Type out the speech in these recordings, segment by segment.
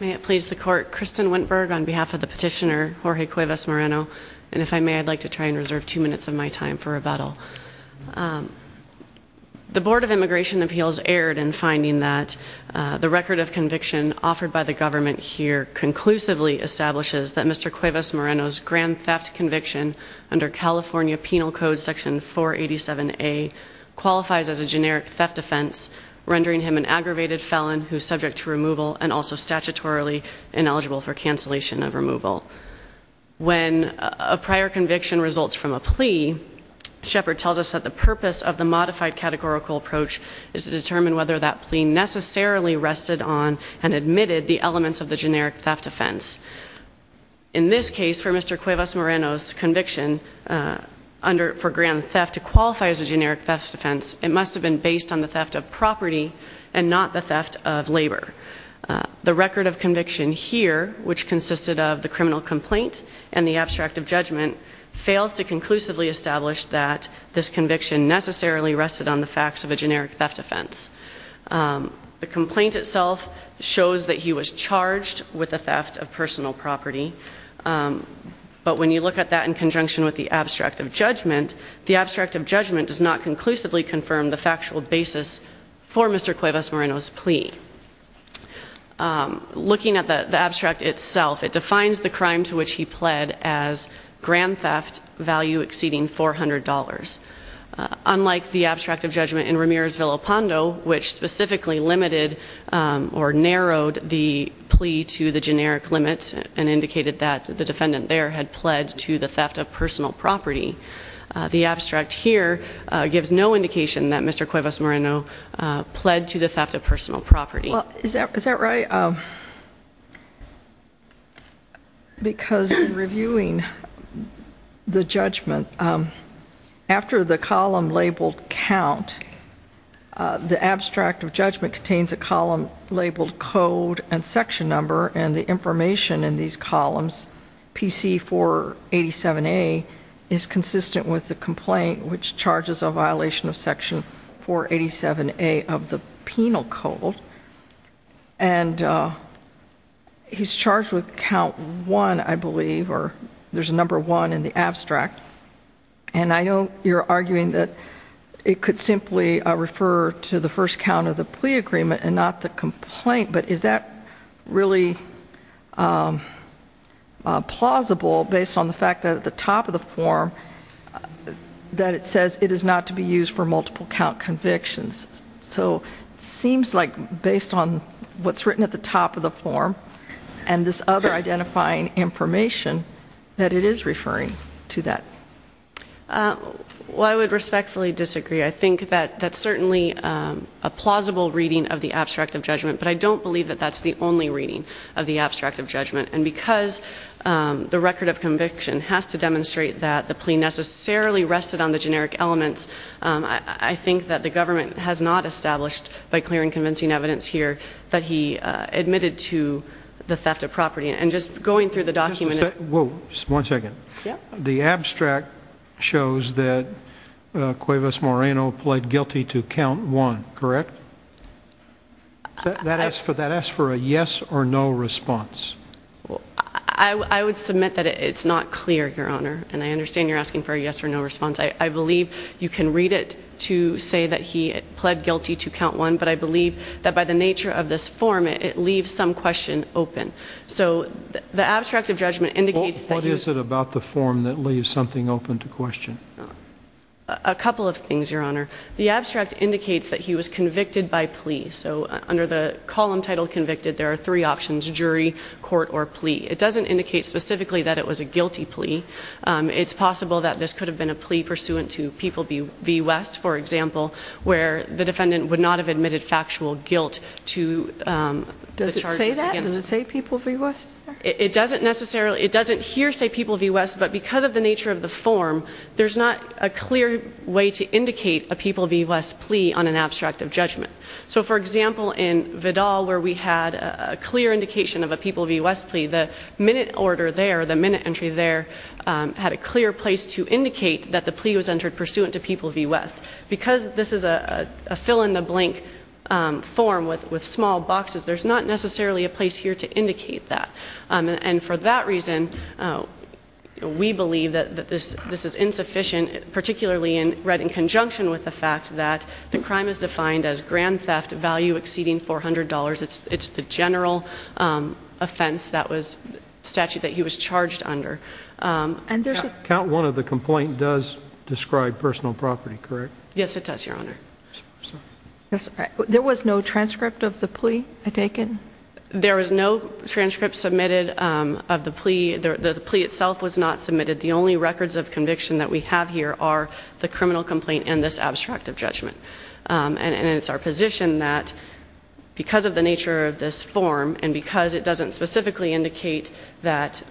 May it please the court, Kristen Wintberg on behalf of the petitioner, Jorge Cuevas-Moreno, and if I may, I'd like to try and reserve two minutes of my time for rebuttal. The Board of Immigration Appeals erred in finding that the record of conviction offered by the government here conclusively establishes that Mr. Cuevas-Moreno's grand theft conviction under California Penal Code Section 487A qualifies as a generic theft offense, rendering him an aggravated felon who is subject to removal and also statutorily ineligible for cancellation of removal. When a prior conviction results from a plea, Shepard tells us that the purpose of the modified categorical approach is to determine whether that plea necessarily rested on and admitted the elements of the generic theft offense. In this case, for Mr. Cuevas-Moreno's conviction for grand theft to qualify as a generic theft offense, it must have been based on the theft of property and not the theft of labor. The record of conviction here, which consisted of the criminal complaint and the abstract of judgment, fails to conclusively establish that this conviction necessarily rested on the facts of a generic theft offense. The complaint itself shows that he was charged with the theft of personal property, but when you look at that in conjunction with the abstract of judgment, the abstract of judgment does not conclusively confirm the factual basis for Mr. Cuevas-Moreno's plea. Looking at the abstract itself, it defines the crime to which he pled as grand theft value exceeding $400. Unlike the abstract of judgment in Ramirez-Villopando, which specifically limited or narrowed the plea to the generic limit and indicated that the defendant there had pled to the theft of personal property. The abstract here gives no indication that Mr. Cuevas-Moreno pled to the theft of personal property. Well, is that right? Because in reviewing the judgment, after the column labeled count, the abstract of judgment contains a column labeled code and section number and the information in these columns PC487A is consistent with the complaint, which charges a violation of section 487A of the penal code. And he's charged with count one, I believe, or there's a number one in the abstract. And I know you're arguing that it could simply refer to the first count of the plea agreement and not the complaint. But is that really plausible based on the fact that at the top of the form that it says it is not to be used for multiple count convictions? So it seems like based on what's written at the top of the form and this other identifying information that it is referring to that. Well, I would respectfully disagree. I think that that's certainly a plausible reading of the abstract of judgment, but I don't believe that that's the only reading of the abstract of judgment. And because the record of conviction has to demonstrate that the plea necessarily rested on the generic elements, I think that the government has not established by clear and convincing evidence here that he admitted to the theft of property. And just going through the document. Whoa, one second. The abstract shows that Cuevas Moreno pled guilty to count one, correct? That asks for a yes or no response. I would submit that it's not clear, Your Honor, and I understand you're asking for a yes or no response. I believe you can read it to say that he pled guilty to count one, but I believe that by the nature of this form, it leaves some question open. So the abstract of judgment indicates that he was... What is it about the form that leaves something open to question? A couple of things, Your Honor. The abstract indicates that he was convicted by plea. So under the column titled convicted, there are three options, jury, court, or plea. It doesn't indicate specifically that it was a guilty plea. It's possible that this could have been a plea pursuant to People v. West, for example, where the defendant would not have admitted factual guilt to the charges against... Does it say that? It doesn't necessarily... It doesn't here say People v. West, but because of the nature of the form, there's not a clear way to indicate a People v. West plea on an abstract of judgment. So for example, in Vidal, where we had a clear indication of a People v. West plea, the minute order there, the minute entry there, had a clear place to indicate that the plea was entered pursuant to People v. West. Because this is a fill-in-the-blank form with small boxes, there's not necessarily a place here to indicate that. And for that reason, we believe that this is insufficient, particularly read in conjunction with the fact that the crime is defined as grand theft, value exceeding $400. It's the general offense that was...statute that he was charged under. And there's a... Count one of the complaint does describe personal property, correct? Yes, it does, Your Honor. There was no transcript of the plea taken? There was no transcript submitted of the plea. The plea itself was not submitted. The only records of conviction that we have here are the criminal complaint and this abstract of judgment. And it's our position that because of the nature of this form, and because it doesn't specifically indicate that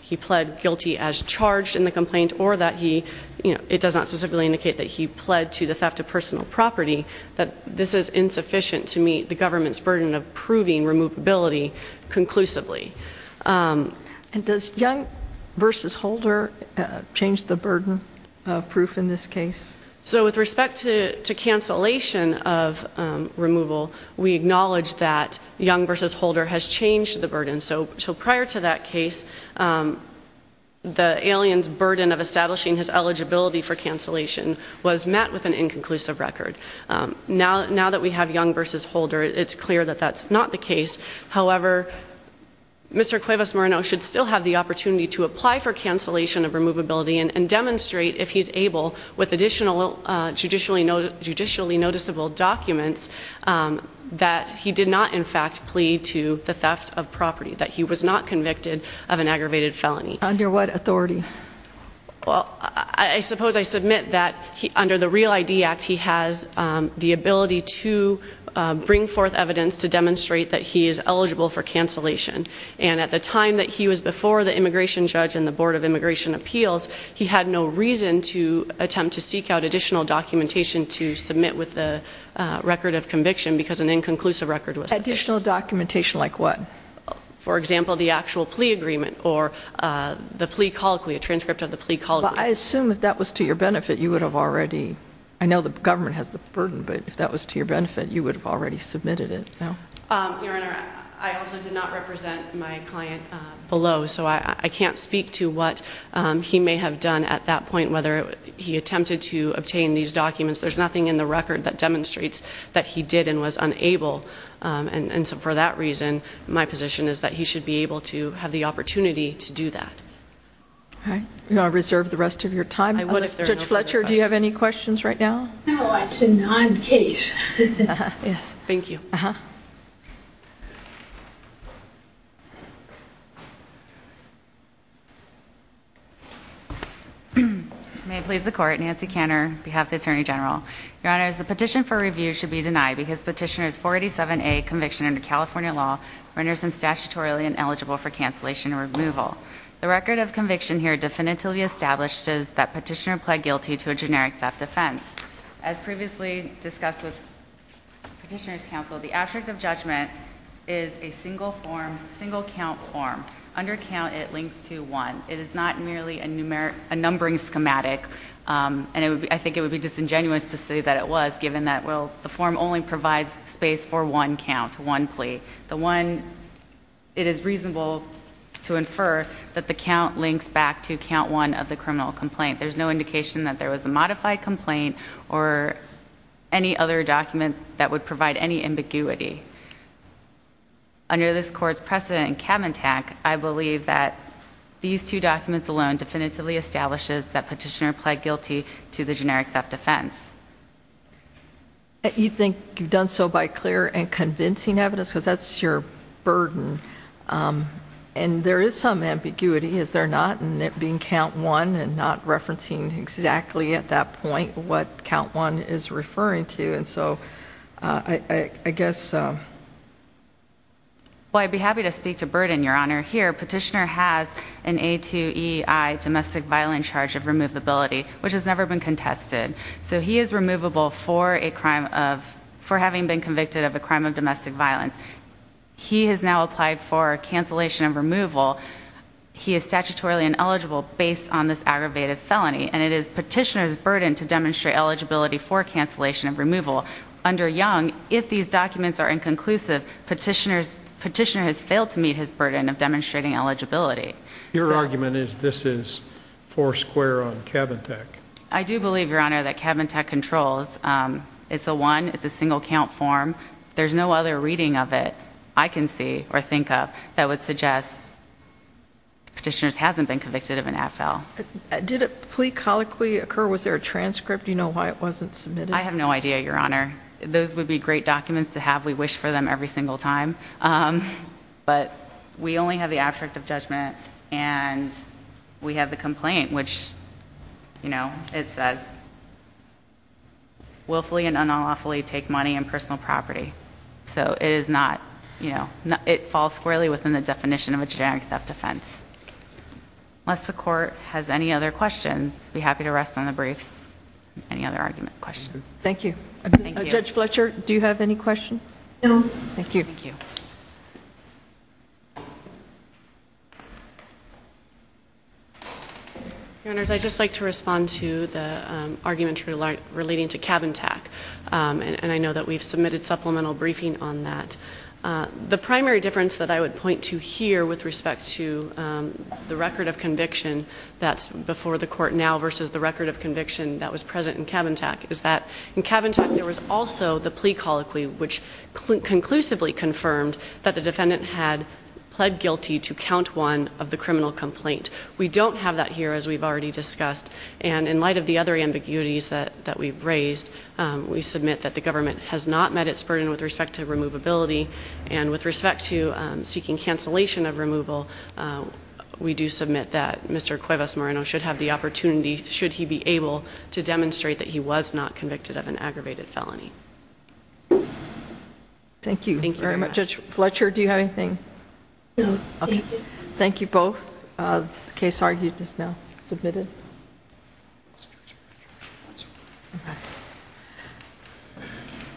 he pled guilty as charged in the complaint, or that he... It does not specifically indicate that he pled to the theft of personal property, that this is insufficient to meet the government's burden of proving removability conclusively. And does Young v. Holder change the burden of proof in this case? So with respect to cancellation of removal, we acknowledge that Young v. Holder has changed the burden. So prior to that case, the alien's burden of establishing his eligibility for cancellation was met with an inconclusive record. Now that we have Young v. Holder, it's clear that that's not the case. However, Mr. Cuevas-Moreno should still have the opportunity to apply for cancellation of removability and demonstrate, if he's able, with additional judicially noticeable documents, that he did not, in fact, plead to the theft of property, that he was not convicted of an aggravated felony. Under what authority? Well, I suppose I submit that under the REAL ID Act, he has the ability to bring forth evidence to demonstrate that he is eligible for cancellation. And at the time that he was before the immigration judge and the Board of Immigration Appeals, he had no reason to attempt to seek out additional documentation to submit with the record of conviction because an inconclusive record was... Additional documentation like what? For example, the actual plea agreement or the plea colloquy, a transcript of the plea colloquy. Well, I assume if that was to your benefit, you would have already... I know the government has the burden, but if that was to your benefit, you would have already submitted it. No. Your Honor, I also did not represent my client below, so I can't speak to what he may have done at that point, whether he attempted to obtain these documents. There's nothing in the record that demonstrates that he did and was unable. And so for that reason, my position is that he should be able to have the opportunity to do that. All right. Do you want to reserve the rest of your time? I would if there are no other questions. Judge Fletcher, do you have any questions right now? No. It's a non-case. Uh-huh. Yes. Thank you. Uh-huh. May it please the Court, Nancy Kanner, on behalf of the Attorney General. Your Honors, the petition for review should be denied because Petitioner's 487A conviction under California law renders him statutorily ineligible for cancellation or removal. The record of conviction here definitively establishes that Petitioner pled guilty to a generic theft offense. As previously discussed with Petitioner's counsel, the abstract of judgment is a single-form, single-count form. Under count, it links to one. It is not merely a numbering schematic, and I think it would be disingenuous to say that it was, given that, well, the form only provides space for one count, one plea. The one, it is reasonable to infer that the count links back to count one of the criminal complaint. There's no indication that there was a modified complaint or any other document that would provide any ambiguity. Under this Court's precedent in Cavantag, I believe that these two documents alone definitively establishes that Petitioner pled guilty to the generic theft offense. You think you've done so by clear and convincing evidence, because that's your burden, and there is some ambiguity, is there not, in it being count one and not referencing exactly at that point what count one is referring to. And so, I guess, um... Well, I'd be happy to speak to burden, Your Honor. Here, Petitioner has an A2EI domestic violence charge of removability, which has never been contested. So, he is removable for a crime of, for having been convicted of a crime of domestic violence. He has now applied for cancellation of removal. He is statutorily ineligible based on this aggravated felony, and it is Petitioner's eligibility for cancellation of removal. Under Young, if these documents are inconclusive, Petitioner has failed to meet his burden of demonstrating eligibility. Your argument is this is four square on Cavantag. I do believe, Your Honor, that Cavantag controls. It's a one, it's a single count form. There's no other reading of it I can see or think of that would suggest Petitioner hasn't been convicted of an AFL. Did a plea colloquy occur? Was there a transcript? Do you know why it wasn't submitted? I have no idea, Your Honor. Those would be great documents to have. We wish for them every single time, but we only have the abstract of judgment, and we have the complaint, which, you know, it says, willfully and unlawfully take money and personal property. So, it is not, you know, it falls squarely within the definition of a generic theft offense. Unless the Court has any other questions, I'd be happy to rest on the briefs. Any other argument, questions? Thank you. Judge Fletcher, do you have any questions? No. Thank you. Thank you. Your Honors, I'd just like to respond to the argument relating to Cavantag, and I know that we've submitted supplemental briefing on that. The primary difference that I would point to here with respect to the record of conviction that's before the Court now versus the record of conviction that was present in Cavantag is that in Cavantag, there was also the plea colloquy, which conclusively confirmed that the defendant had pled guilty to count one of the criminal complaint. We don't have that here, as we've already discussed. And in light of the other ambiguities that we've raised, we submit that the government has not met its burden with respect to removability, and with respect to seeking cancellation of removal, we do submit that Mr. Cuevas-Moreno should have the opportunity, should he be able, to demonstrate that he was not convicted of an aggravated felony. Thank you. Thank you very much. Judge Fletcher, do you have anything? No. Thank you. Thank you both. The case argument is now submitted.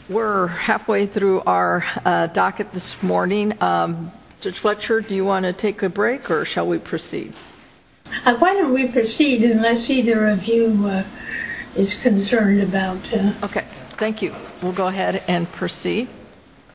We're halfway through our docket this morning. Judge Fletcher, do you want to take a break, or shall we proceed? Why don't we proceed, unless either of you is concerned about... Okay. We'll go ahead and proceed.